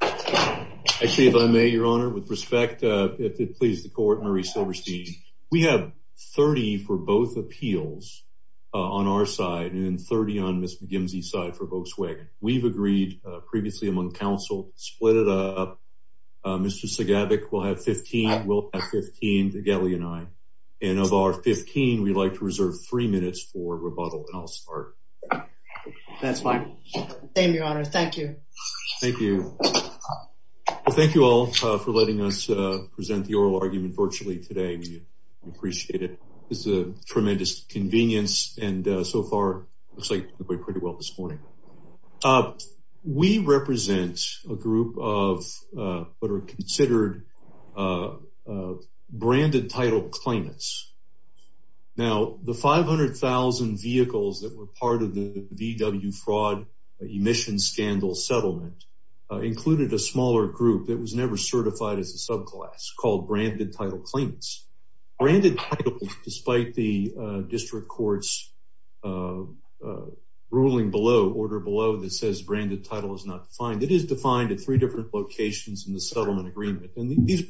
I see if I may, Your Honor. With respect, if it pleases the Court, Marie Silverstein. We have 30 for both appeals on our side and 30 on Ms. McGimsey's side for Volkswagen. We've agreed previously among counsel to split it up. Mr. Segevich will have 15. We'll have 15, Tegeli and I. And of our 15, we'd like to reserve three minutes for rebuttal, and I'll start. That's fine. Same, Your Honor. Thank you. Thank you. Thank you all for letting us present the oral argument virtually today. We appreciate it. This is a tremendous convenience, and so far it looks like it's been going pretty well this morning. We represent a group of what are considered branded title claimants. Now, the 500,000 vehicles that were part of the VW fraud emissions scandal settlement included a smaller group that was never certified as a subclass called branded title claimants. Branded title, despite the district court's ruling below, order below, that says branded title is not defined, it is defined at three different locations in the settlement agreement. And these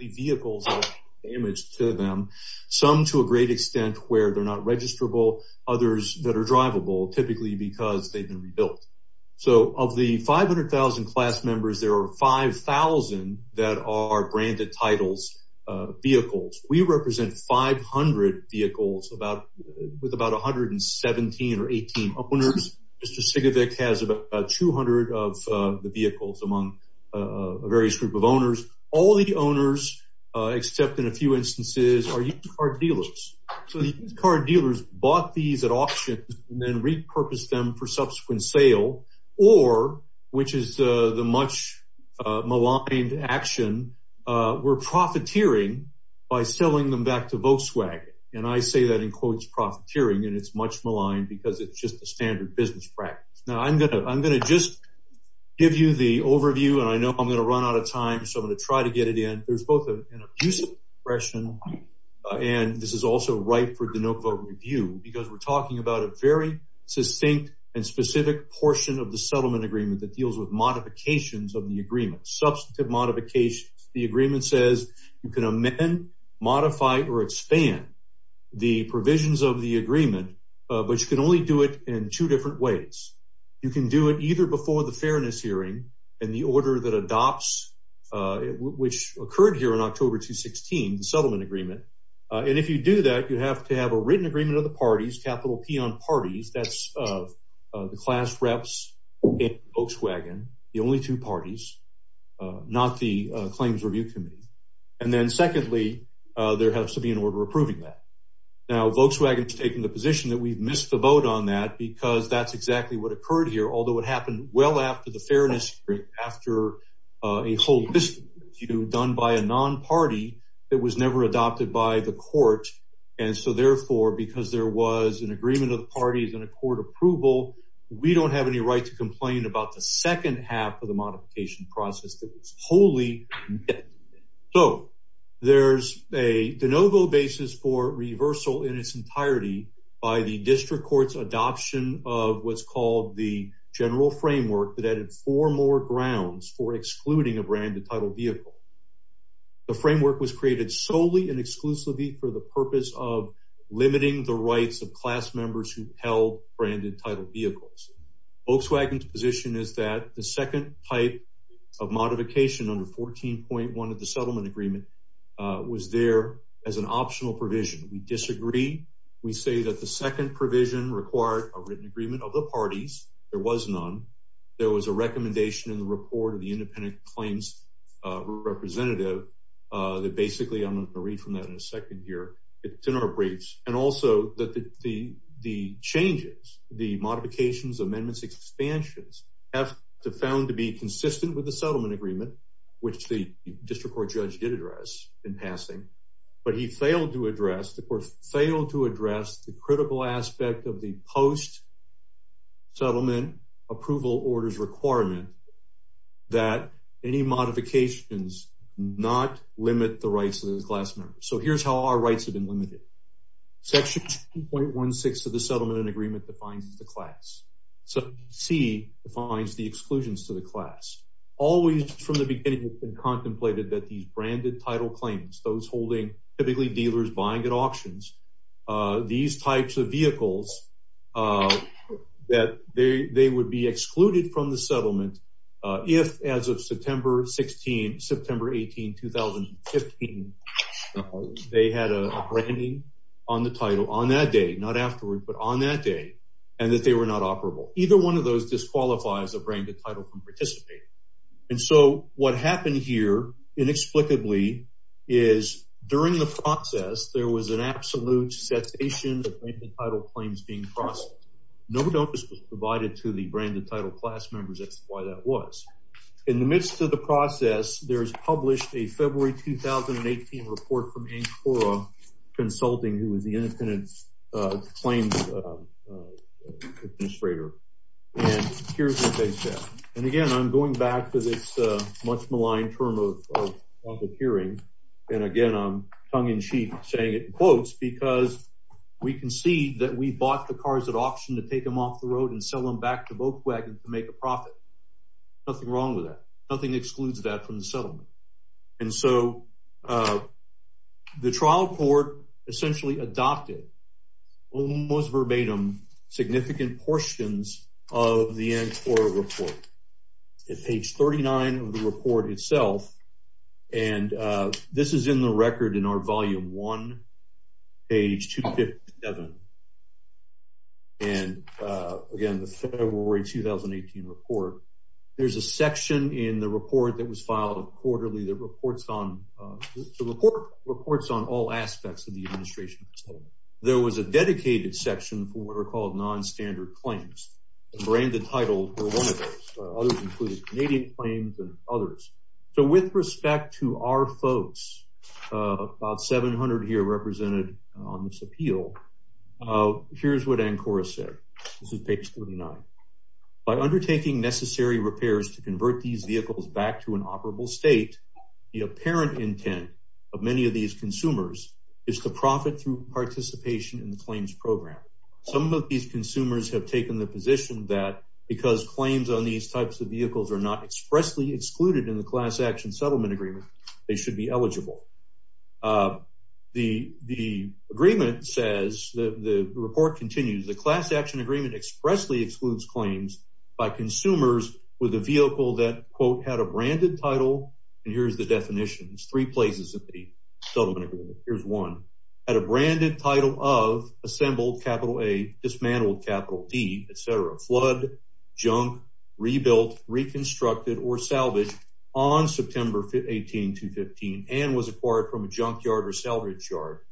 vehicles are damaged to them, some to a great extent where they're not registrable, others that are drivable, typically because they've been rebuilt. So of the 500,000 class members, there are 5,000 that are branded titles vehicles. We represent 500 vehicles with about 117 or 18 owners. Mr. Segevich has about 200 of the vehicles among a various group of owners. All the owners, except in a few instances, are used car dealers. So the used car dealers bought these at auction and then repurposed them for subsequent sale or, which is the much maligned action, were profiteering by selling them back to Volkswagen. And I say that in quotes profiteering, and it's much maligned because it's just a I'm going to just give you the overview, and I know I'm going to run out of time. So I'm going to try to get it in. There's both an abusive expression, and this is also ripe for de novo review, because we're talking about a very succinct and specific portion of the settlement agreement that deals with modifications of the agreement, substantive modifications. The agreement says you can amend, modify, or expand the provisions of the agreement, but you only do it in two different ways. You can do it either before the fairness hearing and the order that adopts, which occurred here in October 2016, the settlement agreement. And if you do that, you have to have a written agreement of the parties, capital P on parties. That's the class reps in Volkswagen, the only two parties, not the claims review committee. And then secondly, there has to be an order approving that. Now Volkswagen has taken the position that we've missed the vote on that because that's exactly what occurred here. Although it happened well after the fairness hearing, after a whole list done by a non-party that was never adopted by the court. And so therefore, because there was an agreement of the parties and a court approval, we don't have any right to complain about the entirety by the district court's adoption of what's called the general framework that added four more grounds for excluding a branded title vehicle. The framework was created solely and exclusively for the purpose of limiting the rights of class members who held branded title vehicles. Volkswagen's position is that the second type of modification under 14.1 of the settlement agreement was there as an optional provision. We disagree. We say that the second provision required a written agreement of the parties. There was none. There was a recommendation in the report of the independent claims representative that basically I'm going to read from that in a second here. It's in our briefs and also that the changes, the modifications, amendments, expansions have to found to be consistent with the settlement agreement, which the district court did address in passing. But he failed to address, the court failed to address the critical aspect of the post-settlement approval orders requirement that any modifications not limit the rights of the class members. So here's how our rights have been limited. Section 2.16 of the settlement agreement defines the class. Section C defines the exclusions to the class. Always from the beginning it's been contemplated that these branded title claims, those holding typically dealers buying at auctions, these types of vehicles that they would be excluded from the settlement if as of September 16, September 18, 2015, they had a branding on the title on that day, not afterwards, but on that day and that they were not operable. Either one of those disqualifies a branded title from participating. And so what happened here inexplicably is during the process, there was an absolute cessation of branded title claims being processed. No notice was provided to the branded title class members. That's why that was. In the midst of the process, there's published a February 2018 report from Ann Cora Consulting, who was the independent claims administrator. And here's what they said. And again, I'm going back to this much maligned term of public hearing. And again, I'm tongue-in-cheek saying it in quotes because we concede that we bought the cars at auction to take them off the road and sell them back to Volkswagen to make a profit. Nothing wrong with that. Nothing excludes that from the settlement. And so the trial court essentially adopted, almost verbatim, significant portions of the Ann Cora report. At page 39 of the report itself, and this is in the record in our volume one, page 257. And again, the February 2018 report, there's a section in the report that was filed quarterly that reports on all aspects of the administration settlement. There was a dedicated section for what are called non-standard claims. The branded title were one of those. Others included Canadian claims and others. So with respect to our folks, about 700 here represented on this appeal, here's what Ann Cora said. This is page 39. By undertaking necessary repairs to convert these vehicles back to an operable state, the apparent intent of many of these consumers is to profit through participation in the claims program. Some of these consumers have taken the position that because claims on these types of vehicles are not expressly excluded in the class action settlement agreement, they should be eligible. The agreement says, the report continues, the class action agreement expressly excludes claims by consumers with a vehicle that, quote, had a branded title. And here's the definitions, three places of the settlement agreement. Here's one. Had a branded title of assembled, capital A, dismantled, capital D, et cetera. Flood, junk, rebuilt, reconstructed, or salvaged on September 18, 2015, and was acquired from a junkyard or loophole.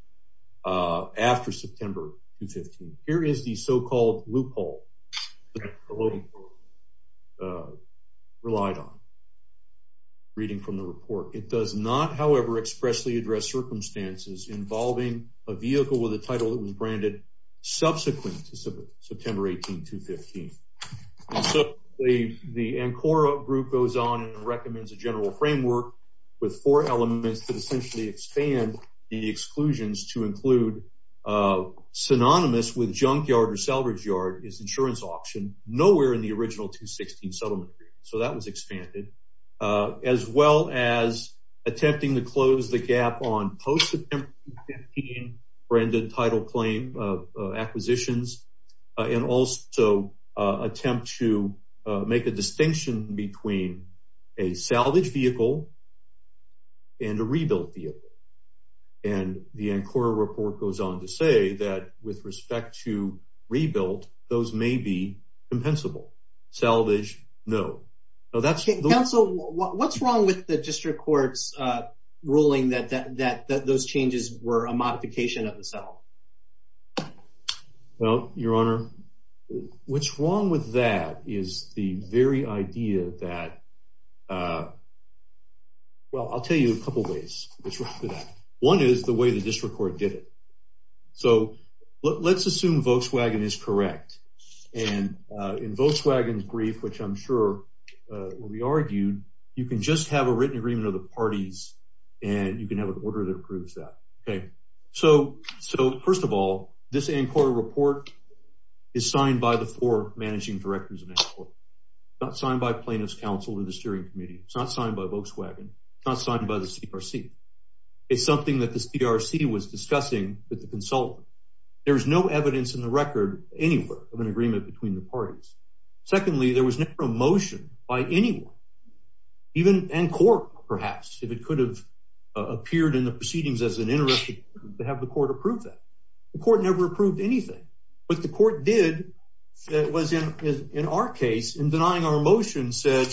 It does not expressly address circumstances involving a vehicle with a title that was branded subsequent to September 18, 2015. So the Ann Cora group goes on and recommends a general framework with four elements that essentially expand the exclusions to include synonymous with junkyard or salvage yard is insurance auction, nowhere in the original 216 settlement agreement. So that was expanded as well as attempting to close the gap on post branded title claim acquisitions, and also attempt to make a distinction between a salvage vehicle and a rebuilt vehicle. And the Ann Cora report goes on to say that with respect to rebuilt, those may be compensable. Salvage, no. Counsel, what's wrong with the district court's ruling that those changes were a modification of the settlement? Well, Your Honor, what's wrong with that is the very idea that, well, I'll tell you a couple ways. One is the way the district court did it. So let's assume Volkswagen is correct. And in Volkswagen's brief, which I'm sure will be argued, you can just have a written agreement of the parties, and you can have an order that approves that. Okay. So first of all, this Ann Cora report is signed by the four counsel to the steering committee. It's not signed by Volkswagen. It's not signed by the CRC. It's something that the CRC was discussing with the consultant. There's no evidence in the record anywhere of an agreement between the parties. Secondly, there was no promotion by anyone, even Ann Cora, perhaps, if it could have appeared in the proceedings as an interest to have the court approve that. The court never approved anything. What the court did was, in our case, in denying our motion, said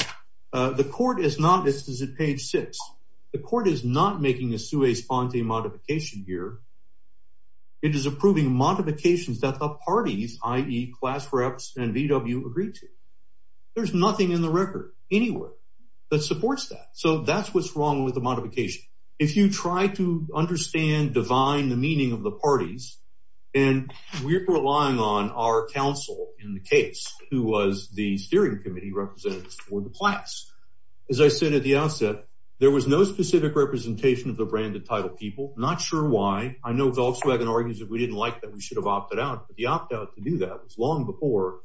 the court is not, this is at page six, the court is not making a sui sponte modification here. It is approving modifications that the parties, i.e. class reps and VW, agree to. There's nothing in the record anywhere that supports that. So that's what's wrong with the modification. If you try to understand, divine the meaning of the case, who was the steering committee representatives for the class. As I said at the outset, there was no specific representation of the branded title people. Not sure why. I know Volkswagen argues that we didn't like that. We should have opted out, but the opt out to do that was long before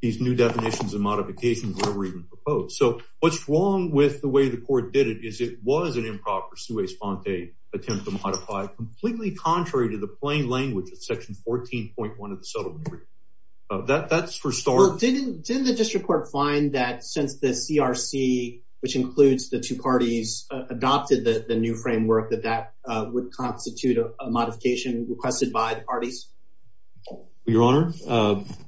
these new definitions and modifications were even proposed. So what's wrong with the way the court did it is it was an improper sui sponte attempt to modify completely contrary to the plain language of section 14.1 of the settlement. That's for starters. Didn't the district court find that since the CRC, which includes the two parties, adopted the new framework that that would constitute a modification requested by the parties? Your honor,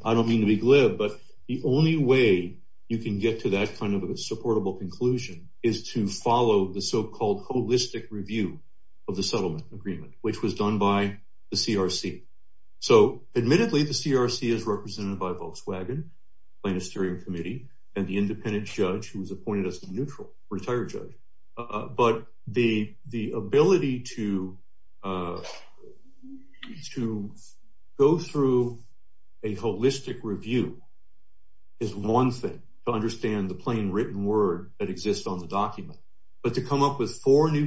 I don't mean to be glib, but the only way you can get to that kind of a supportable conclusion is to follow the so-called holistic review of the settlement agreement, which was done by the CRC. So admittedly, the CRC is represented by Volkswagen, Plaintiff's steering committee, and the independent judge who was appointed as a neutral retired judge. But the ability to go through a holistic review is one thing to understand the new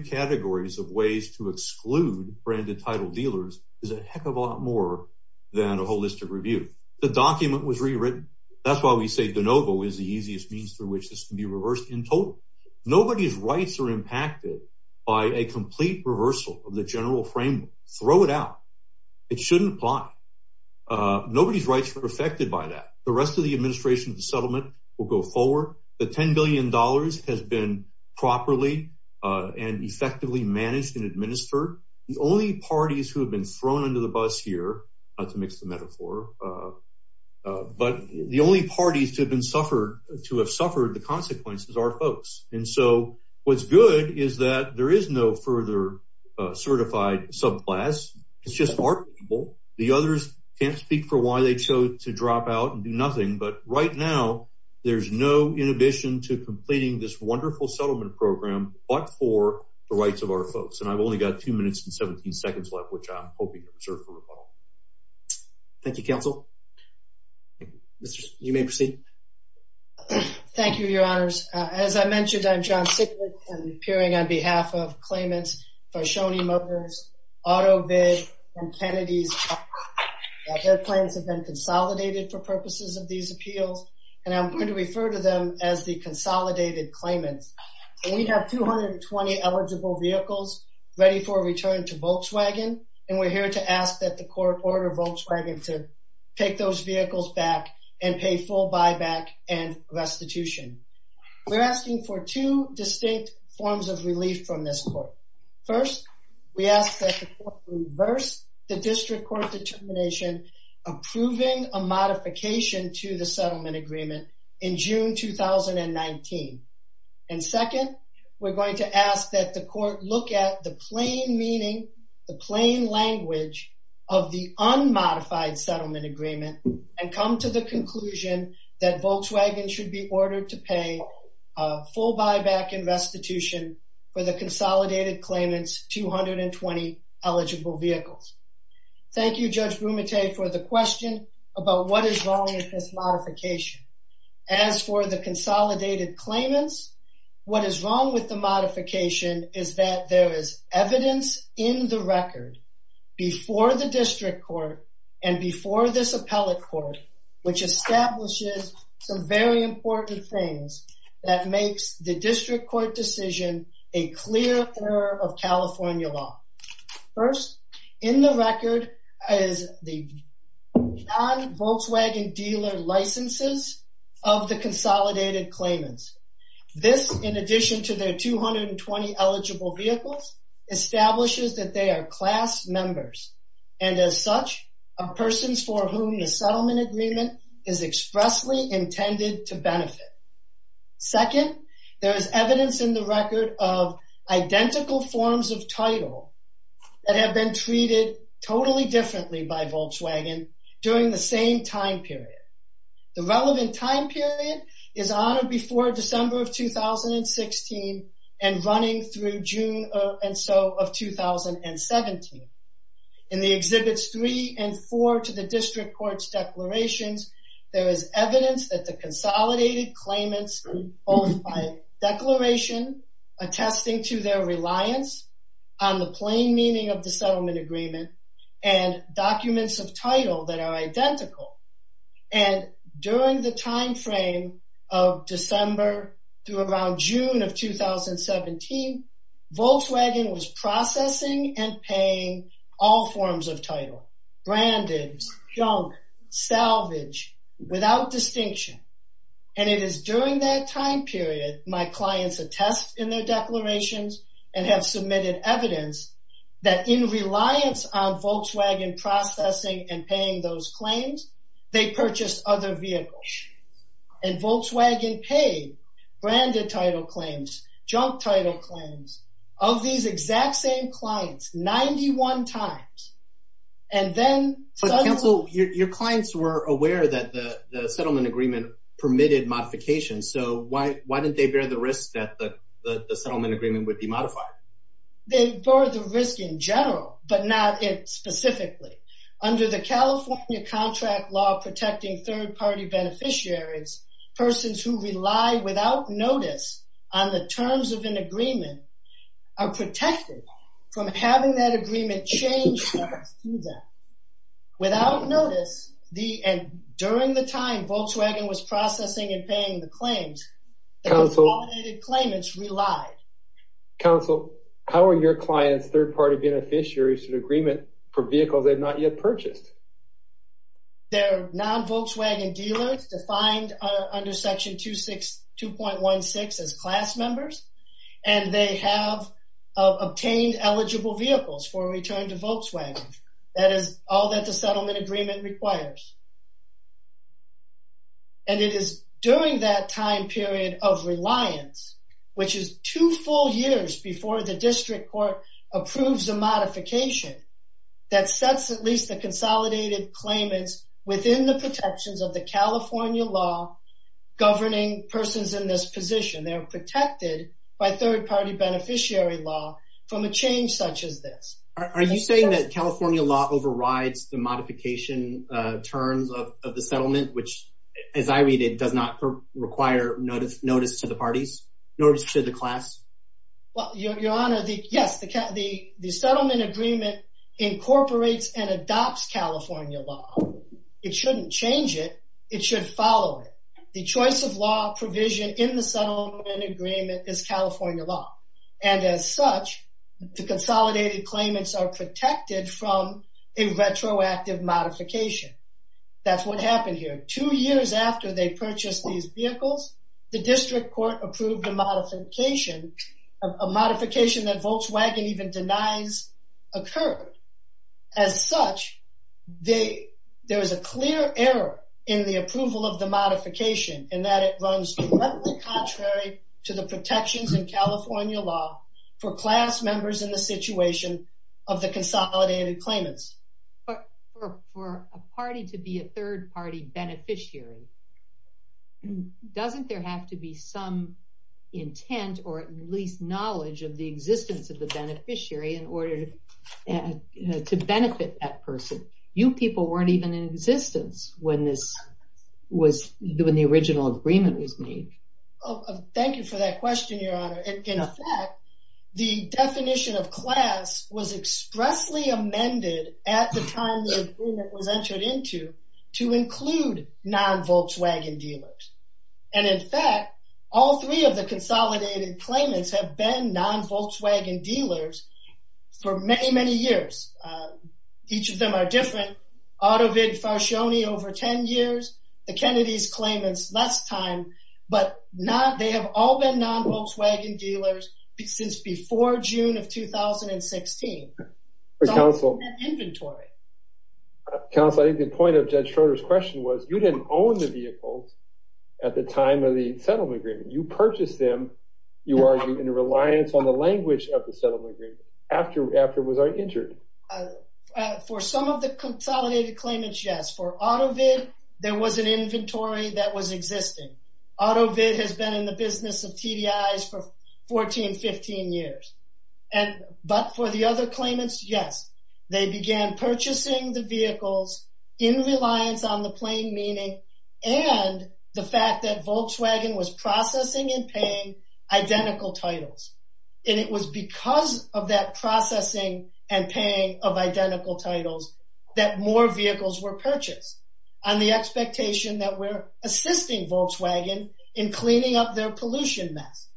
categories of ways to exclude branded title dealers is a heck of a lot more than a holistic review. The document was rewritten. That's why we say de novo is the easiest means through which this can be reversed in total. Nobody's rights are impacted by a complete reversal of the general framework. Throw it out. It shouldn't apply. Nobody's rights are affected by that. The rest of the administration of the settlement will go forward. The $10 billion has been properly and effectively managed and administered. The only parties who have been thrown under the bus here, not to mix the metaphor, but the only parties to have suffered the consequences are folks. And so what's good is that there is no further certified subclass. It's just our people. The others can't speak for why they chose to drop out and do nothing. But right now, there's no settlement program, but for the rights of our folks. And I've only got two minutes and 17 seconds left, which I'm hoping to reserve for rebuttal. Thank you, counsel. Mr. You may proceed. Thank you, your honors. As I mentioned, I'm John Siglitz. I'm appearing on behalf of claimants for Shoney Muggers, AutoBid, and Kennedy's. Their claims have been consolidated for purposes of these appeals, and I'm going to refer to them as the consolidated claimants. We have 220 eligible vehicles ready for return to Volkswagen, and we're here to ask that the court order Volkswagen to take those vehicles back and pay full buyback and restitution. We're asking for two distinct forms of relief from this court. First, we ask that the court reverse the district court determination approving a modification to the settlement agreement in June 2019. And second, we're going to ask that the court look at the plain meaning, the plain language of the unmodified settlement agreement and come to the conclusion that Volkswagen should be ordered to pay a full buyback and restitution for the consolidated claimants 220 eligible vehicles. Thank you, Judge Brumette, for the question about what is wrong with this modification. As for the consolidated claimants, what is wrong with the modification is that there is evidence in the record before the district court and before this appellate court which establishes some very important things that makes the district court decision a clear error of California law. First, in the record is the non-Volkswagen dealer licenses of the consolidated claimants. This, in addition to their 220 eligible vehicles, establishes that they are class members and as such are persons for whom the settlement agreement is expressly intended to benefit. Second, there is evidence in the record of identical forms of title that have been treated totally differently by Volkswagen during the same time period. The relevant time period is on or before December of 2016 and running through June and so of 2017. In the exhibits three and four to the declaration attesting to their reliance on the plain meaning of the settlement agreement and documents of title that are identical and during the time frame of December through around June of 2017, Volkswagen was processing and paying all forms of title, branded, junk, salvage, without distinction and it is during that time period my clients attest in their declarations and have submitted evidence that in reliance on Volkswagen processing and paying those claims, they purchased other vehicles and Volkswagen paid branded title claims, junk title claims of these exact same clients 91 times and then... But counsel, your clients were aware that the settlement agreement permitted modification so why didn't they bear the risk that the settlement agreement would be modified? They bore the risk in general but not it specifically. Under the California contract law protecting third-party beneficiaries, persons who rely without notice on the terms of an agreement are protected from having that agreement changed without notice the and during the time Volkswagen was processing and paying the claims claimants relied. Counsel, how are your clients third-party beneficiaries to the agreement for vehicles they've not yet purchased? They're non-Volkswagen dealers defined under section 262.16 as class members and they have obtained eligible vehicles for return to Volkswagen that is all that the settlement agreement requires. And it is during that time period of reliance which is two full years before the district court approves a modification that sets at least the consolidated claimants within the protections of California law governing persons in this position. They're protected by third-party beneficiary law from a change such as this. Are you saying that California law overrides the modification terms of the settlement which as I read it does not require notice to the parties notice to the class? Well your honor, yes the settlement agreement incorporates and adopts California law. It shouldn't change it, it should follow it. The choice of law provision in the settlement agreement is California law and as such the consolidated claimants are protected from a retroactive modification. That's what happened here two years after they purchased these vehicles the district court approved a modification a modification that Volkswagen even denies occurred. As such they there is a clear error in the approval of the modification in that it runs contrary to the protections in California law for class members in the situation of the consolidated claimants. But for a party to be a third-party beneficiary doesn't there have to be some intent or at least knowledge of the existence of the beneficiary in order to benefit that person. You people weren't even in existence when this was when the original agreement was made. Thank you for that question your honor. In fact the definition of class was expressly amended at the time the agreement was entered into to include non-Volkswagen dealers and in fact all three of the consolidated claimants have been non-Volkswagen dealers for many many years. Each of them are different. AutoVid, Farsione over 10 years, the Kennedy's claimants less time but not they have all been non-Volkswagen dealers since before June of 2016. Counsel, I think the point of Judge Schroeder's question was you didn't own the vehicles at the time of the settlement agreement. You purchased them, you are in reliance on the language of the settlement agreement after it was entered. For some of the consolidated claimants, yes. For AutoVid, there was an inventory that was existing. AutoVid has been in the business of TDIs for 14-15 years and but for the other claimants, yes. They began purchasing the vehicles in reliance on the plain meaning and the fact that Volkswagen was processing and paying identical titles and it was because of that processing and paying of identical titles that more vehicles were purchased on the expectation that we're assisting Volkswagen in cleaning up their pollution mess.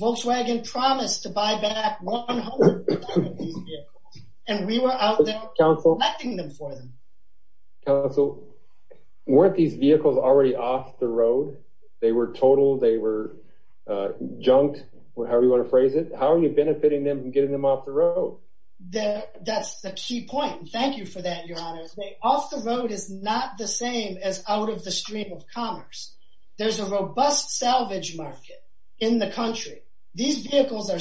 Volkswagen promised to buy back 100 of these vehicles and we were out there collecting them for them. Counsel, weren't these vehicles already off the road? They were total, they were junked, however you want to phrase it. How are you benefiting them and getting them off the road? That's the key point. Thank you for that, your honor. Off the road is not the same as out of stream of commerce. There's a robust salvage market in the country. These vehicles are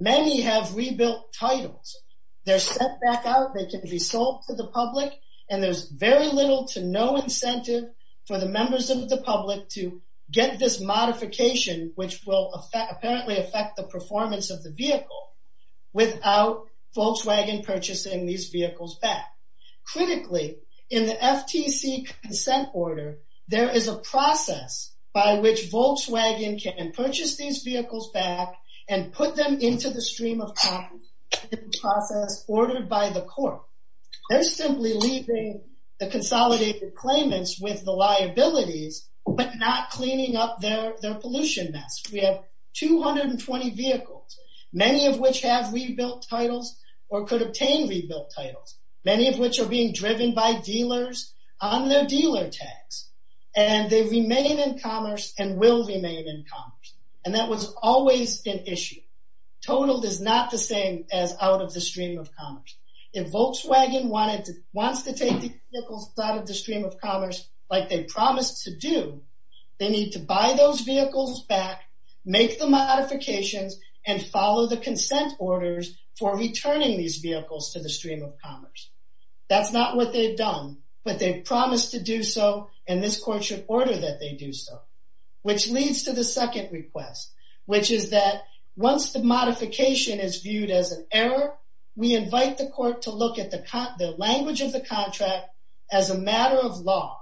many have rebuilt titles. They're sent back out, they can be sold to the public and there's very little to no incentive for the members of the public to get this modification which will apparently affect the performance of the vehicle without Volkswagen purchasing these vehicles back. Critically, in the FTC consent order, there is a process by which Volkswagen can purchase these vehicles back and put them into the stream of process ordered by the court. They're simply leaving the consolidated claimants with the liabilities but not cleaning up their pollution mess. We have 220 vehicles, many of which have rebuilt titles or could obtain rebuilt titles, many of which are being driven by dealers on their dealer tags and they remain in commerce and will remain in commerce and that was always an issue. Total is not the same as out of the stream of commerce. If Volkswagen wanted to, wants to take the vehicles out of the stream of commerce like they promised to do, they need to buy those vehicles back, make the modifications and follow the consent orders for returning these vehicles to the stream of commerce. That's not what they've done but they've promised to do so and this court should order that they do so. Which leads to the second request, which is that once the modification is viewed as an error, we invite the court to look at the language of the contract as a matter of law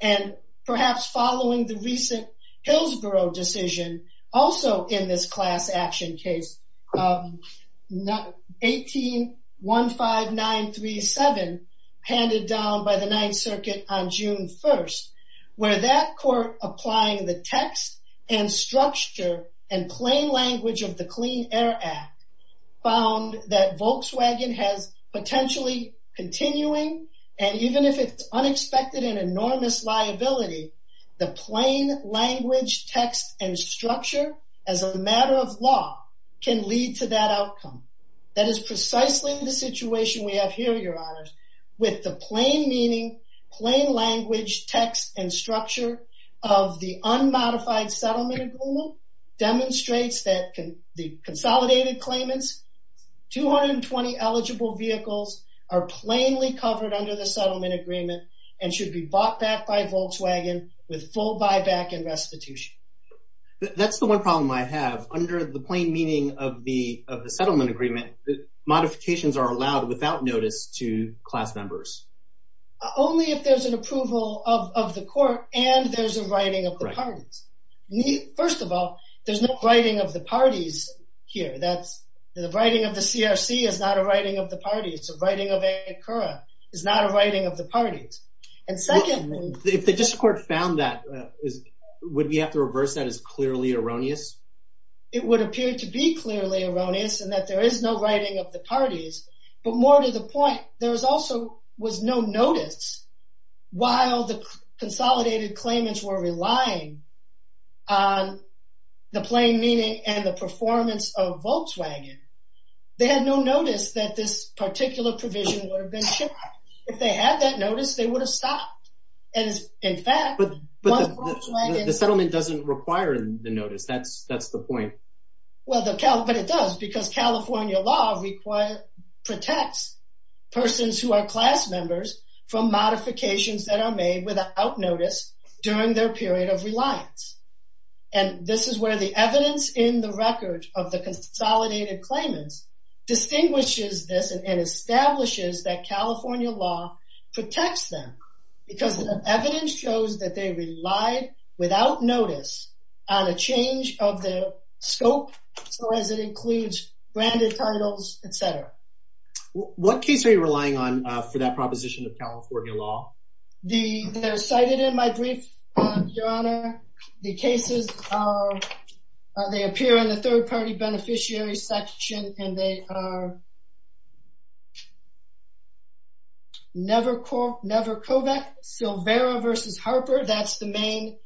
and perhaps following the recent Hillsborough decision, also in this class action case, 18-15937, handed down by the ninth circuit on June 1st, where that court applying the text and structure and plain language of the Clean Air Act found that Volkswagen has potentially continuing and even if it's unexpected and enormous liability, the plain language text and structure as a matter of law can lead to that outcome. That is precisely the situation we have here, your honors, with the plain meaning, plain language text and structure of the unmodified settlement agreement demonstrates that the consolidated claimants, 220 eligible vehicles are plainly covered under the settlement agreement and should be bought back by Volkswagen with full buyback and restitution. That's the one problem I have, under the plain meaning of the settlement agreement, modifications are allowed without notice to class members. Only if there's an approval of the court and there's a writing of the parties. First of all, there's no writing of the parties here. That's the writing of the CRC is not a writing of the party. It's a writing of a current is not a writing of the parties. And secondly, if the district court found that, would we have to reverse that as clearly erroneous? It would appear to be clearly erroneous and that there is no writing of the parties, but more to the point, there was also was no notice while the consolidated claimants were relying on the plain meaning and the performance of Volkswagen. They had no notice that this particular provision would have been shipped. If they had that notice, they would have stopped. The settlement doesn't require the notice. That's the point. Well, but it does because California law protects persons who are class members from modifications that are made without notice during their period of reliance. And this is where the evidence in the record of the consolidated claimants distinguishes this and establishes that California law protects them because the evidence shows that they relied without notice on a change of their scope. So as it includes branded titles, et cetera. What case are you relying on for that proposition of California law? They're cited in my brief, your honor. The cases, they appear in the third party beneficiary section and they are Nevercovec, Silvera v. Harper. That's the main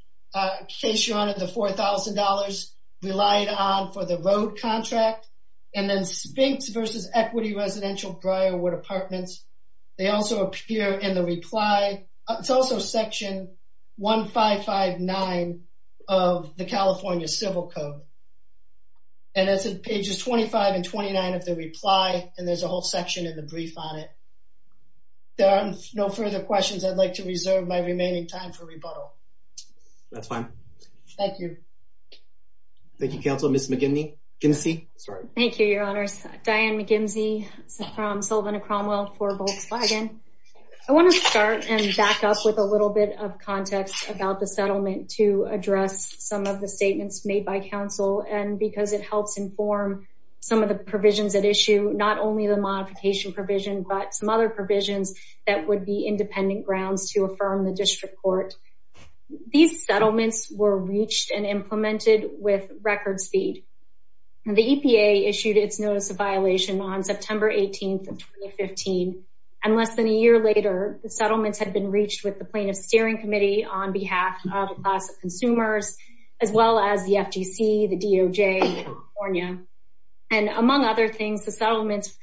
case, your honor, the $4,000 relied on for the road contract. And then Spinks v. Equity Residential Briarwood Apartments. They also appear in the reply. It's also section 1559 of the California Civil Code. And that's pages 25 and 29 of the reply. And there's a whole section in the brief on it. There are no further questions. I'd like to reserve my remaining time for rebuttal. That's fine. Thank you. Thank you, counsel. Ms. McGinsey. Thank you, your honors. Diane McGinsey from Sullivan and Cromwell for Volkswagen. I want to start and back up with a little bit of context about the settlement to address some of the statements made by counsel and because it helps inform some of the provisions at issue, not only the modification provision, but some other provisions that would be independent grounds to affirm the district court. These settlements were reached and implemented with record speed. The EPA issued its notice of violation on September 18th of 2015. And less than a year later, the settlements had been reached with the plaintiff's steering committee on behalf of the class of consumers, as well as the FTC, the DOJ in California. And among other things, the settlements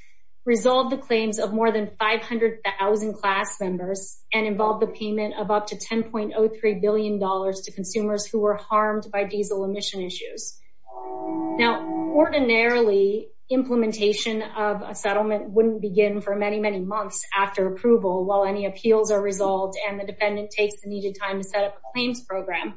resolved the claims of more than 500,000 class members and involved the payment of up to $10.03 billion to consumers who were harmed by diesel emission issues. Now, ordinarily, implementation of a settlement wouldn't begin for many, many months after approval, while any appeals are resolved and the defendant takes the needed time to set up a claims program.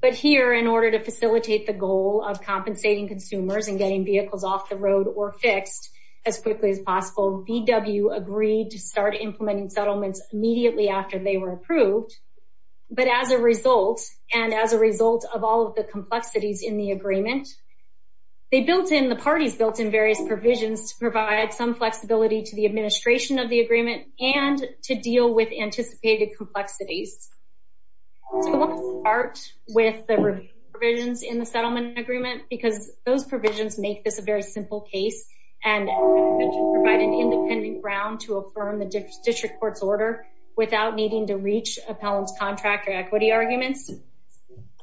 But here, in order to facilitate the goal of compensating consumers and getting vehicles off the road or fixed as quickly as possible, VW agreed to start implementing settlements immediately after they were approved. But as a result, and as a result of all of the complexities in the agreement, they built in, the parties built in various provisions to provide some flexibility to the administration of the agreement and to deal with anticipated complexities. So we want to start with the revisions in the settlement agreement because those provisions make this a very simple case and provide an independent ground to affirm the district court's order without needing to reach appellant's contract or equity arguments.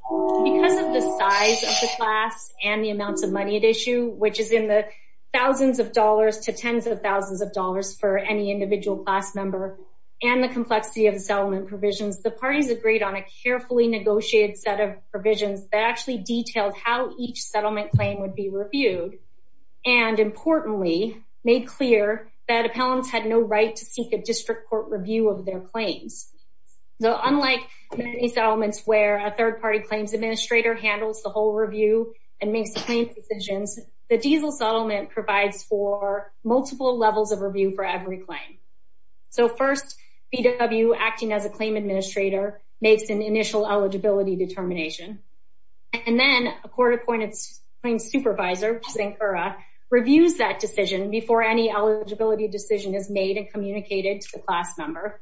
Because of the size of the class and the amounts of money at issue, which is in the thousands of dollars to tens of thousands of dollars for any individual class member, and the complexity of provisions, the parties agreed on a carefully negotiated set of provisions that actually detailed how each settlement claim would be reviewed. And importantly, made clear that appellants had no right to seek a district court review of their claims. So unlike many settlements where a third party claims administrator handles the whole review and makes clean decisions, the diesel settlement provides for multiple levels of review for every claim. So first, VW, acting as a claim administrator, makes an initial eligibility determination. And then a court appointed claim supervisor, Sankara, reviews that decision before any eligibility decision is made and communicated to the class member.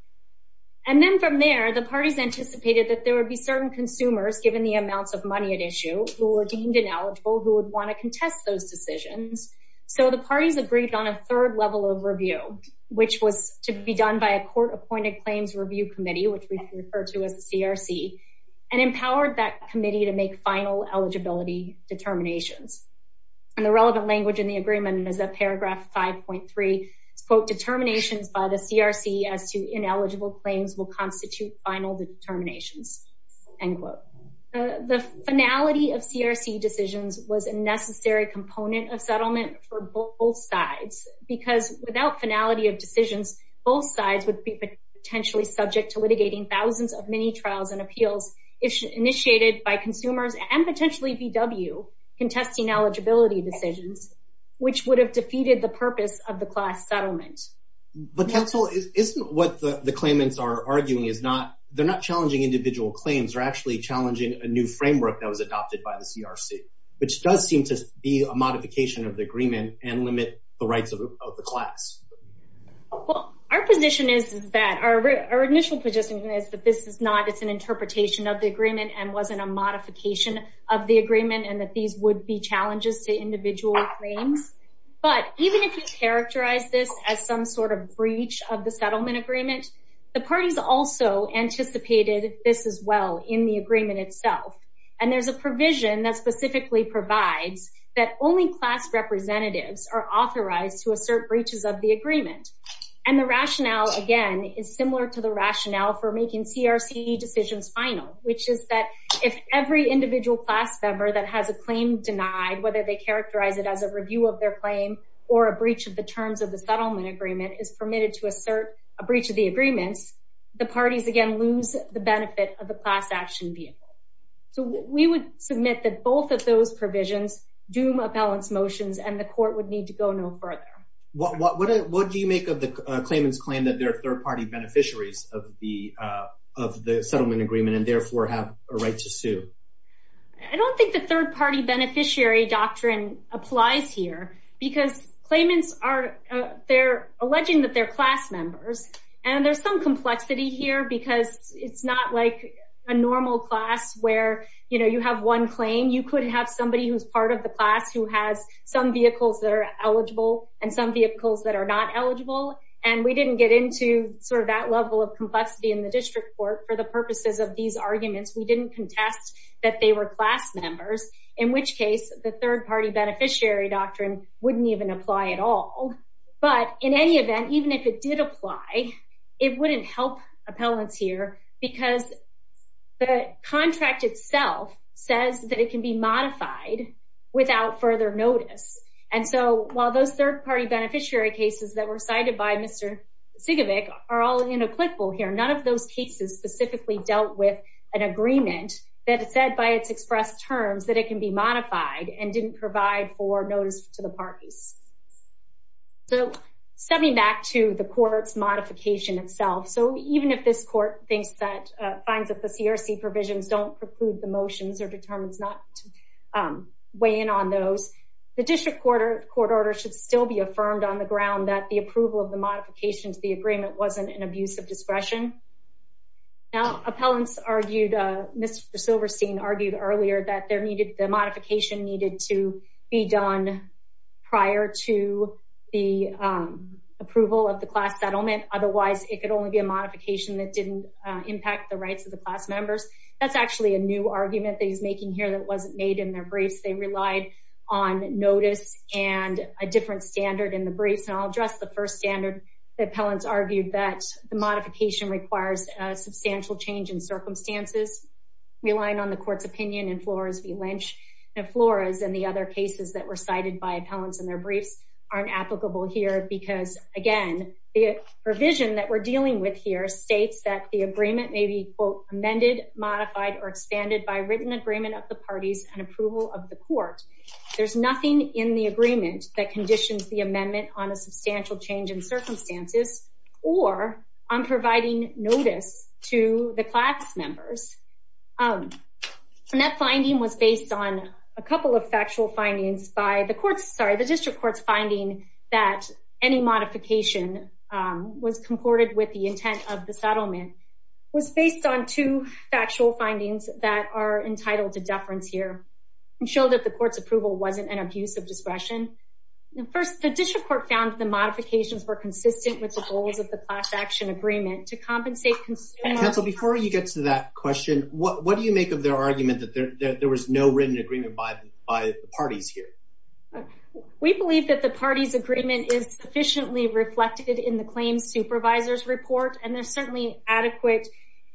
And then from there, the parties anticipated that there would be certain consumers, given the amounts of money at issue, who were deemed ineligible, who would want to contest those decisions. So the parties agreed on a third level of review, which was to be done by a court appointed claims review committee, which we refer to as the CRC, and empowered that committee to make final eligibility determinations. And the relevant language in the agreement is that paragraph 5.3, quote, determinations by the CRC as to ineligible claims will constitute final determinations, end quote. The finality of CRC decisions was a necessary component of settlement for both sides because without finality of decisions, both sides would be potentially subject to litigating thousands of mini trials and appeals initiated by consumers and potentially VW contesting eligibility decisions, which would have defeated the purpose of the class settlement. But counsel, isn't what the claimants are arguing is not, they're not challenging individual claims, they're actually challenging a new framework that was adopted by the CRC, which does seem to be a the rights of the class. Well, our position is that our initial position is that this is not, it's an interpretation of the agreement and wasn't a modification of the agreement and that these would be challenges to individual claims. But even if you characterize this as some sort of breach of the settlement agreement, the parties also anticipated this as well in the agreement itself. And there's a provision that specifically provides that only class representatives are authorized to assert breaches of the agreement. And the rationale again is similar to the rationale for making CRC decisions final, which is that if every individual class member that has a claim denied, whether they characterize it as a review of their claim or a breach of the terms of the settlement agreement is permitted to assert a breach of the agreements, the parties again lose the benefit of the class action vehicle. So we would submit that both of those provisions doom a balance motions and the court would need to go no further. What do you make of the claimants claim that they're third party beneficiaries of the settlement agreement and therefore have a right to sue? I don't think the third party beneficiary doctrine applies here because claimants are, they're alleging that they're class members. And there's some complexity here because it's not like a normal class where, you know, you have one claim. You could have somebody who's part of the class who has some vehicles that are eligible and some vehicles that are not eligible. And we didn't get into sort of that level of complexity in the district court for the purposes of these arguments. We didn't contest that they were class members, in which case the third party beneficiary doctrine wouldn't even apply at all. But in any event, even if it did apply, it wouldn't help appellants here because the contract itself says that it can be modified without further notice. And so while those third party beneficiary cases that were cited by Mr. Sigovic are all inapplicable here, none of those cases specifically dealt with an agreement that it said by its express terms that it can be modified and didn't provide for court's modification itself. So even if this court thinks that, finds that the CRC provisions don't preclude the motions or determines not to weigh in on those, the district court order should still be affirmed on the ground that the approval of the modifications to the agreement wasn't an abuse of discretion. Now, appellants argued, Mr. Silverstein argued earlier that there needed, the modification needed to be done prior to the approval of the class settlement. Otherwise, it could only be a modification that didn't impact the rights of the class members. That's actually a new argument that he's making here that wasn't made in their briefs. They relied on notice and a different standard in the briefs. And I'll address the first standard that appellants argued that the modification requires a substantial change in circumstances relying on the court's opinion and Flores v. Lynch. Now, Flores and the other cases that were cited by appellants in their briefs aren't applicable here because, again, the provision that we're dealing with here states that the agreement may be, quote, amended, modified, or expanded by written agreement of the parties and approval of the court. There's nothing in the agreement that conditions the amendment on a substantial change in circumstances or on providing notice to the class members. And that finding was based on a couple of factual findings by the court's, sorry, the district court's finding that any modification was concorded with the intent of the settlement was based on two factual findings that are entitled to deference here and showed that the court's approval wasn't an abuse of discretion. First, the district court found the modifications were consistent with the goals of the class action agreement to compensate consumers. Counsel, before you get to that question, what do you make of their argument that there was no written agreement by the parties here? We believe that the parties' agreement is sufficiently reflected in the claims supervisor's report, and there's certainly adequate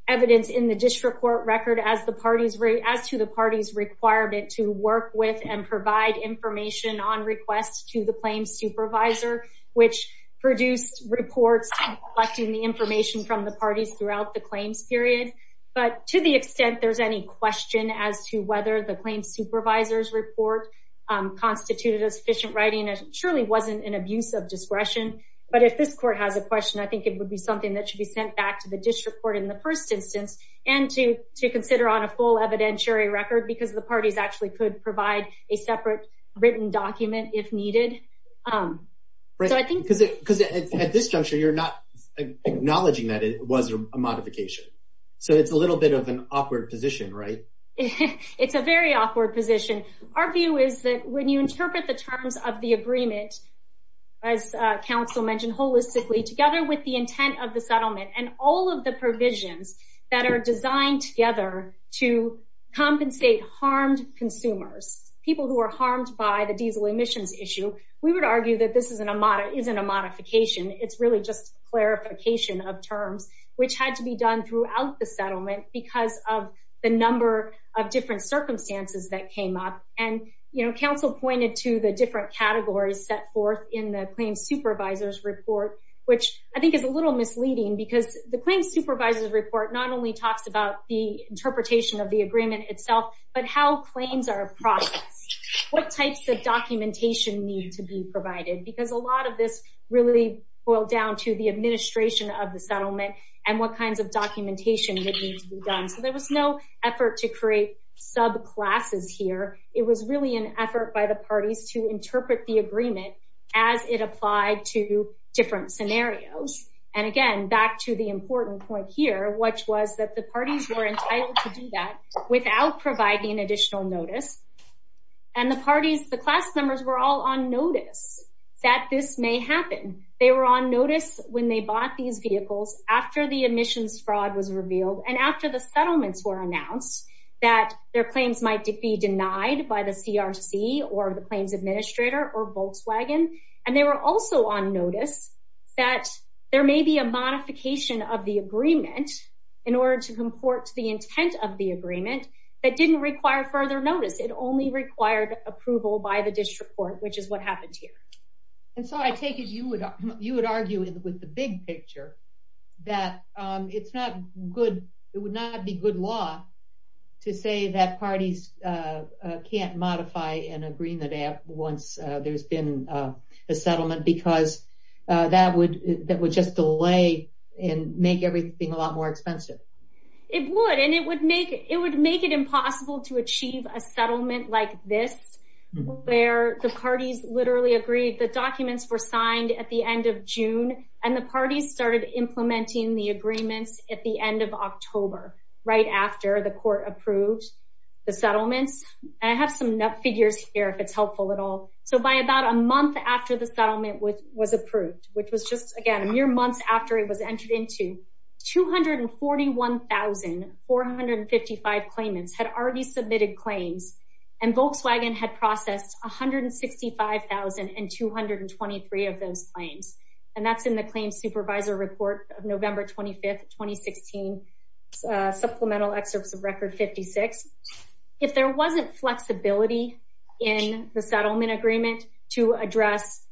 evidence in the district court record as to the parties' requirement to work with and provide information on requests to the claims supervisor, which produced reports collecting the information from the parties throughout the claims period. But to the extent there's any question as to whether the claims supervisor's report constituted a sufficient writing, it surely wasn't an abuse of discretion. But if this court has a question, I think it would be something that should be sent back to the district court in the first instance and to consider on a full evidentiary record because the parties actually could provide a separate written document if needed. Because at this juncture, you're not acknowledging that it was a modification. So it's a little bit of an awkward position, right? It's a very awkward position. Our view is that when you interpret the terms of the agreement, as counsel mentioned holistically, together with the intent of the settlement and all of the provisions that are designed together to compensate harmed consumers, people who are harmed by the diesel emissions issue, we would argue that this isn't a modification. It's really just clarification of terms, which had to be done throughout the settlement because of the number of different circumstances that came up. And counsel pointed to the different categories set forth in the claims supervisor's report, which I think is a little misleading because the claims supervisor's report not only talks about the interpretation of the agreement itself, but how claims are processed, what types of documentation need to be provided, because a lot of this really boiled down to the administration of the settlement and what kinds of documentation that needs to be done. So there was no effort to create subclasses here. It was really an effort by the parties to interpret the agreement as it applied to different scenarios. And again, back to the important point here, which was that the parties were entitled to do that without providing additional notice. And the parties, the class members were all on notice that this may happen. They were on notice when they bought these vehicles after the emissions fraud was revealed and after the claims might be denied by the CRC or the claims administrator or Volkswagen. And they were also on notice that there may be a modification of the agreement in order to comport to the intent of the agreement that didn't require further notice. It only required approval by the district court, which is what happened here. And so I take it you would argue with the big picture that it's not good. It would not be good law to say that parties can't modify an agreement once there's been a settlement, because that would just delay and make everything a lot more expensive. It would, and it would make it impossible to achieve a settlement like this, where the parties literally agreed the documents were signed at the end of June, and the parties started implementing the agreements at the end of October, right after the court approved the settlements. I have some figures here, if it's helpful at all. So by about a month after the settlement was approved, which was just, again, a mere months after it was entered into, 241,455 claims. And Volkswagen had processed 165,223 of those claims. And that's in the Claim Supervisor Report of November 25th, 2016, Supplemental Excerpts of Record 56. If there wasn't flexibility in the settlement agreement to address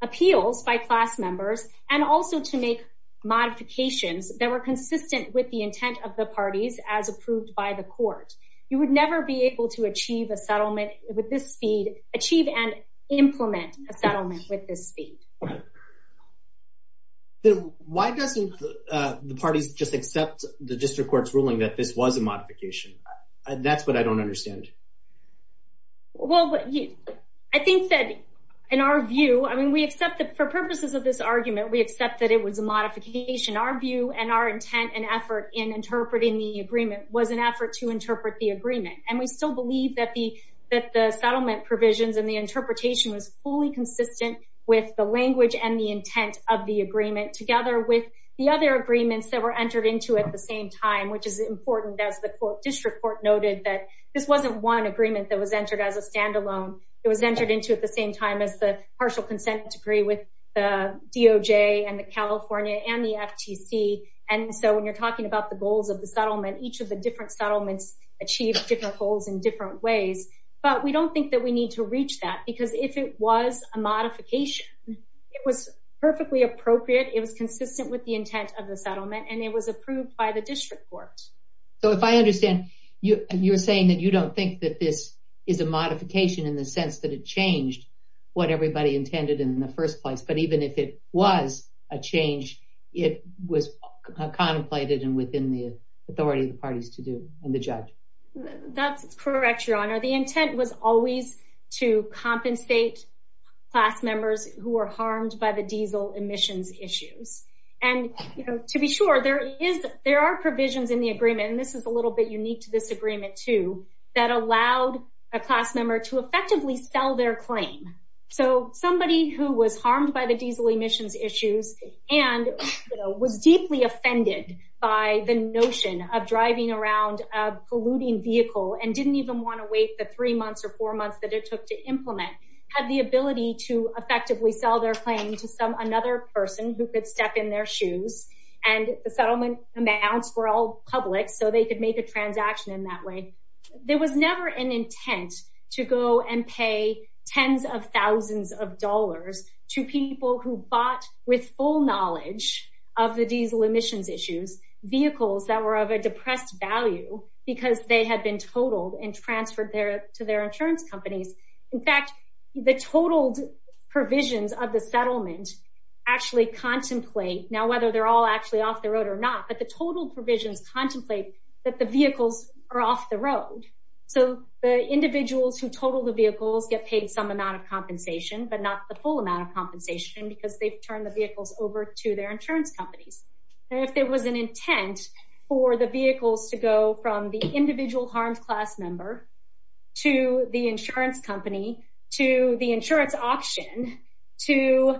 appeals by class members, and also to make modifications that were consistent with the intent of the parties as approved by the court, you would never be able to achieve a settlement with this speed, achieve and implement a settlement with this speed. Why doesn't the parties just accept the district court's ruling that this was a modification? That's what I don't understand. Well, I think that in our view, I mean, we accept for purposes of this argument, we accept that it was a modification. Our view and our intent and effort in interpreting the agreement was an effort to interpret the agreement. And we still believe that the settlement provisions and the interpretation was fully consistent with the language and the intent of the agreement together with the other agreements that were entered into at the same time, which is important as the district court noted that this wasn't one agreement that was entered as a standalone. It was entered into at the same time as the partial consent decree with the DOJ and the California and the FTC. And so when you're talking about the goals of the settlement, each of the different settlements achieve different goals in different ways. But we don't think that we need to reach that because if it was a modification, it was perfectly appropriate, it was consistent with the intent of the settlement, and it was approved by the district court. So if I understand you, you're saying that you don't think that this is a modification in the sense that it changed what everybody intended in the first place. But even if it was a change, it was contemplated and within the authority of the parties to do and the judge. That's correct, your honor. The intent was always to compensate class members who were harmed by the diesel emissions issues. And, you know, to be sure, there are provisions in the agreement, and this is a little bit unique to this agreement too, that allowed a class member to effectively sell their claim. So somebody who was harmed by the diesel emissions issues and was deeply offended by the notion of driving around a polluting vehicle and didn't even want to wait the three months or four months that it took to implement, had the ability to effectively sell their claim to some another person who could step in their shoes. And the settlement amounts were all public so they could make a transaction in that way. There was never an intent to go and pay tens of thousands of dollars to people who bought with full knowledge of the diesel emissions issues, vehicles that were of a depressed value because they had been totaled and transferred to their insurance companies. In fact, the totaled provisions of the settlement actually contemplate, now whether they're all actually off the road or not, the total provisions contemplate that the vehicles are off the road. So the individuals who totaled the vehicles get paid some amount of compensation, but not the full amount of compensation because they've turned the vehicles over to their insurance companies. And if there was an intent for the vehicles to go from the individual harmed class member to the insurance company, to the insurance auction, to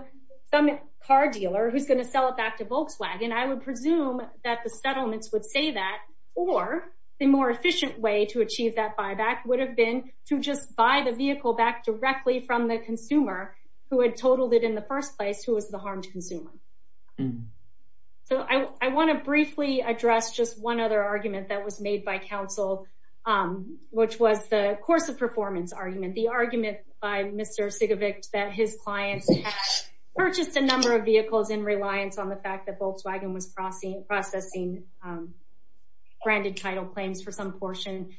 some car dealer who's going to sell it back to Volkswagen, I would presume that the settlements would say that, or the more efficient way to achieve that buyback would have been to just buy the vehicle back directly from the consumer who had totaled it in the first place who was the harmed consumer. So I want to briefly address just one other argument that was made by counsel, which was the course of performance argument, the argument by Mr. Sigovic that his clients purchased a number of vehicles in reliance on the fact that Volkswagen was processing branded title claims for some portion.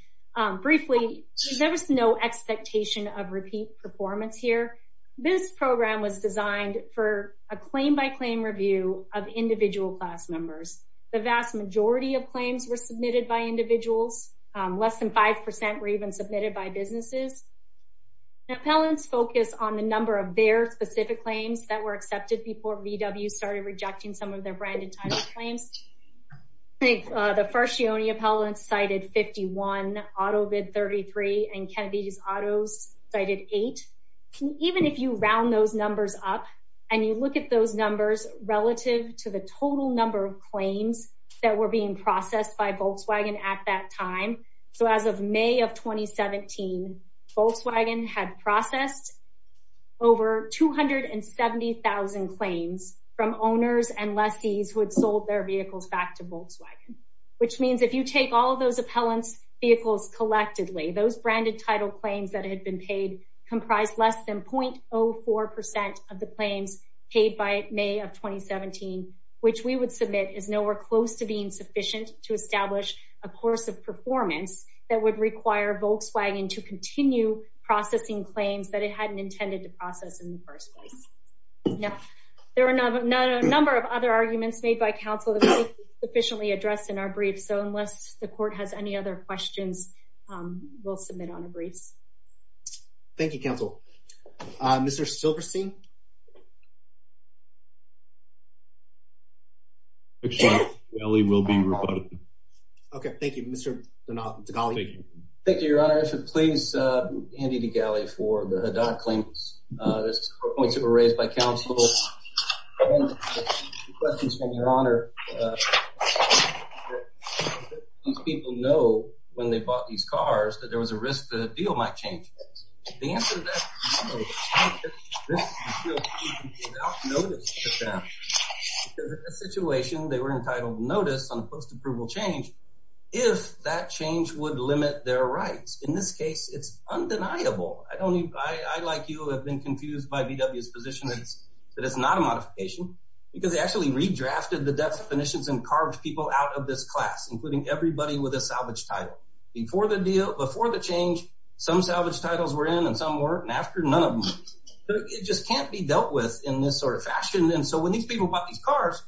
Briefly, there was no expectation of repeat performance here. This program was designed for a claim by claim review of individual class members. The vast majority of claims were submitted by individuals. Less than 5% were even submitted by businesses. Now appellants focus on the number of their specific claims that were accepted before VW started rejecting some of their branded title claims. I think the first year only appellants cited 51, auto bid 33, and Kennedy's autos cited eight. Even if you round those numbers up and you look at those numbers relative to the total number of claims that were being processed by Volkswagen at that time. So as of May of 2017, Volkswagen had processed over 270,000 claims from owners and lessees who had sold their vehicles back to Volkswagen, which means if you take all of those appellants vehicles collectively, those branded title claims that had been paid comprised less than 0.04% of the claims paid by May of 2017, which we would submit is nowhere close to being a course of performance that would require Volkswagen to continue processing claims that it hadn't intended to process in the first place. Now, there are a number of other arguments made by counsel that we didn't sufficiently address in our brief, so unless the court has any other questions, we'll submit on the briefs. Thank you, counsel. Mr. Silverstein? Mr. Degali will be rebutted. Okay, thank you, Mr. Degali. Thank you, your honor. If you'd please hand it to Degali for the Haddad claims. There's four points that were raised by counsel. These people know when they bought these cars that there was a risk the deal might change. The answer to that is no. Because in this situation, they were entitled to notice on a post-approval change if that change would limit their rights. In this case, it's undeniable. I don't need, I, like you, have been confused by VW's position that it's not a modification because they actually redrafted the definitions and carved people out of this class, including everybody with a salvage title. Before the deal, before the change, some salvage titles were in and some weren't, and after, none of them. It just can't be dealt with in this sort of fashion, and so when these people bought these cars,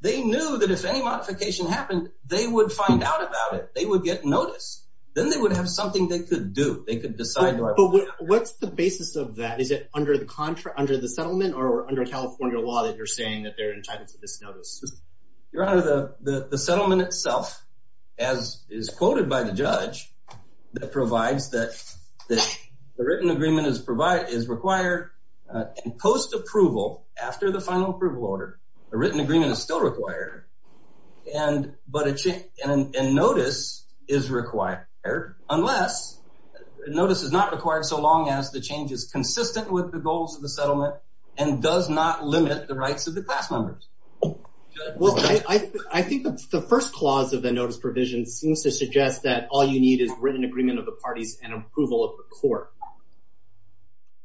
they knew that if any modification happened, they would find out about it. They would get notice. Then they would have something they could do. They could decide. But what's the basis of that? Is it under the contra, under the settlement, or under California law that you're saying that they're entitled to by the judge that provides that the written agreement is required in post-approval after the final approval order? A written agreement is still required, and notice is required unless notice is not required so long as the change is consistent with the goals of the settlement and does not limit the rights of the class members? Well, I think the first clause of the all-you-need-is-written-agreement-of-the-parties-and-approval-of-the-court.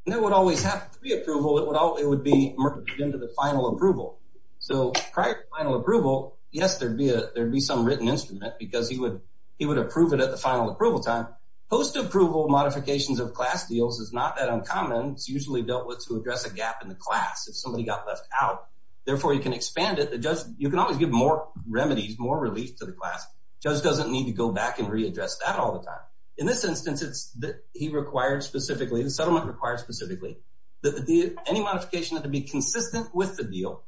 That would always have pre-approval. It would be merged into the final approval, so prior to final approval, yes, there'd be some written instrument because he would approve it at the final approval time. Post-approval modifications of class deals is not that uncommon. It's usually dealt with to address a gap in the class if somebody got left out. Therefore, you can expand it. You can always give more remedies, more relief to the class. Judge doesn't need to go back and readdress that all the time. In this instance, it's that he required specifically, the settlement required specifically that any modification had to be consistent with the deal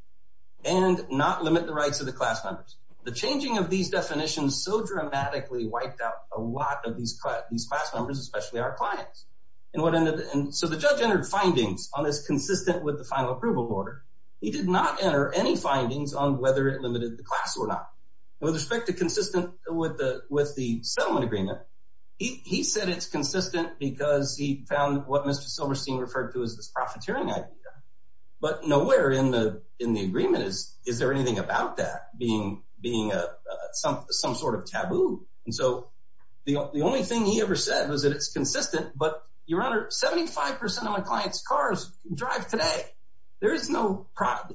and not limit the rights of the class members. The changing of these definitions so dramatically wiped out a lot of these class members, especially our clients. So the judge entered findings on this consistent with the final approval order. He did not enter any findings on whether it limited the class or not. With respect to consistent with the settlement agreement, he said it's consistent because he found what Mr. Silverstein referred to as this profiteering idea, but nowhere in the agreement is there anything about that being some sort of taboo. And so the only thing he ever said was that it's consistent, but your honor, 75% of my clients' cars drive today. There is no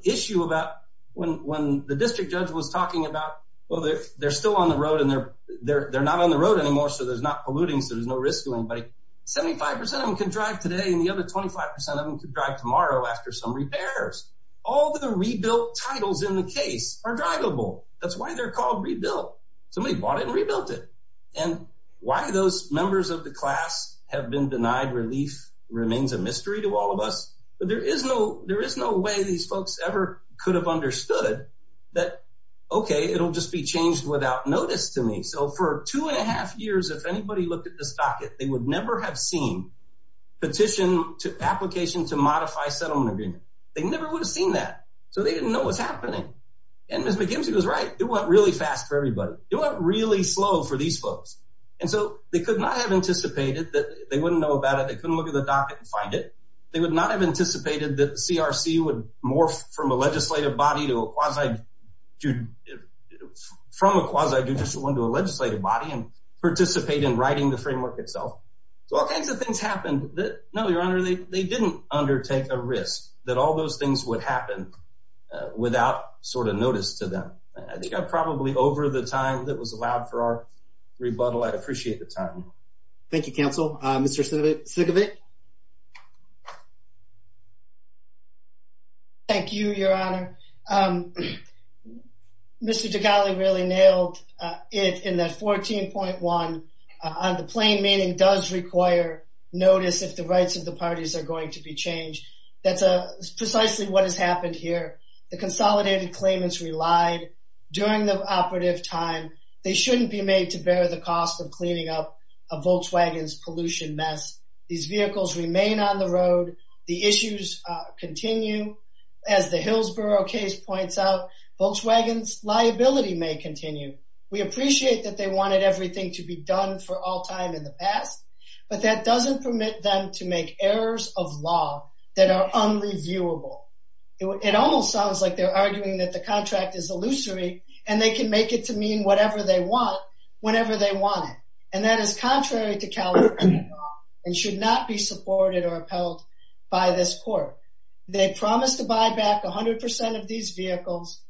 issue about when the district judge was talking about, well, they're still on the road and they're not on the road anymore, so there's not polluting, so there's no risk to anybody. 75% of them can drive today and the other 25% of them could drive tomorrow after some repairs. All the rebuilt titles in the case are drivable. That's why they're called rebuilt. Somebody bought it and rebuilt it. And why those members of the class have been denied relief remains a that, okay, it'll just be changed without notice to me. So for two and a half years, if anybody looked at this docket, they would never have seen petition to application to modify settlement agreement. They never would have seen that. So they didn't know what's happening. And Ms. McKimsey was right. It went really fast for everybody. It went really slow for these folks. And so they could not have anticipated that they wouldn't know about it. They couldn't look at the body from a quasi judicial one to a legislative body and participate in writing the framework itself. So all kinds of things happened that, no, Your Honor, they didn't undertake a risk that all those things would happen without sort of notice to them. I think I'm probably over the time that was allowed for our rebuttal. I appreciate the time. Thank you, counsel. Mr. Sigovit. Thank you, Your Honor. Mr. Degali really nailed it in that 14.1 on the plain meaning does require notice if the rights of the parties are going to be changed. That's precisely what has happened here. The consolidated claimants relied during the operative time. They shouldn't be made to on the road. The issues continue. As the Hillsborough case points out, Volkswagen's liability may continue. We appreciate that they wanted everything to be done for all time in the past, but that doesn't permit them to make errors of law that are unreviewable. It almost sounds like they're arguing that the contract is illusory and they can make it to mean whatever they want whenever they want it. And that is contrary to California law and should not be supported or upheld by this court. They promised to buy back 100% of these vehicles.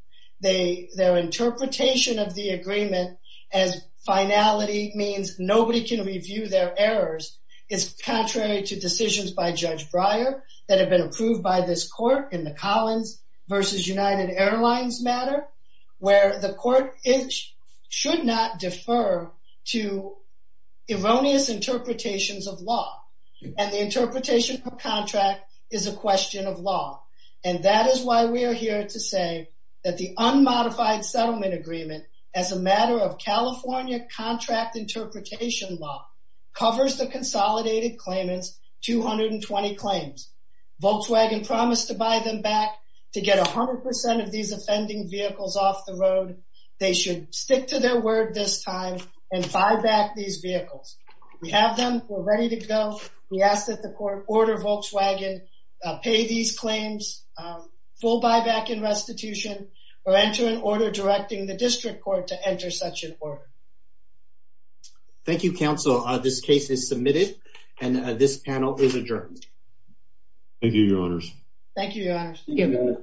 Their interpretation of the agreement as finality means nobody can review their errors is contrary to decisions by Judge Breyer that have been approved by this court in the Collins versus United Airlines matter where the court should not defer to erroneous interpretations of law and the interpretation of contract is a question of law. And that is why we are here to say that the unmodified settlement agreement as a matter of California contract interpretation law covers the consolidated claimants 220 claims. Volkswagen promised to buy them back to get 100% of these offending vehicles off the road. They should stick to their word this time and buy back these vehicles. We have them. We're ready to go. We ask that the court order Volkswagen pay these claims full buyback in restitution or enter an order directing the district court to enter such an order. Thank you, counsel. This case is submitted and this panel is adjourned. Thank you, your honors. Thank you, your honors.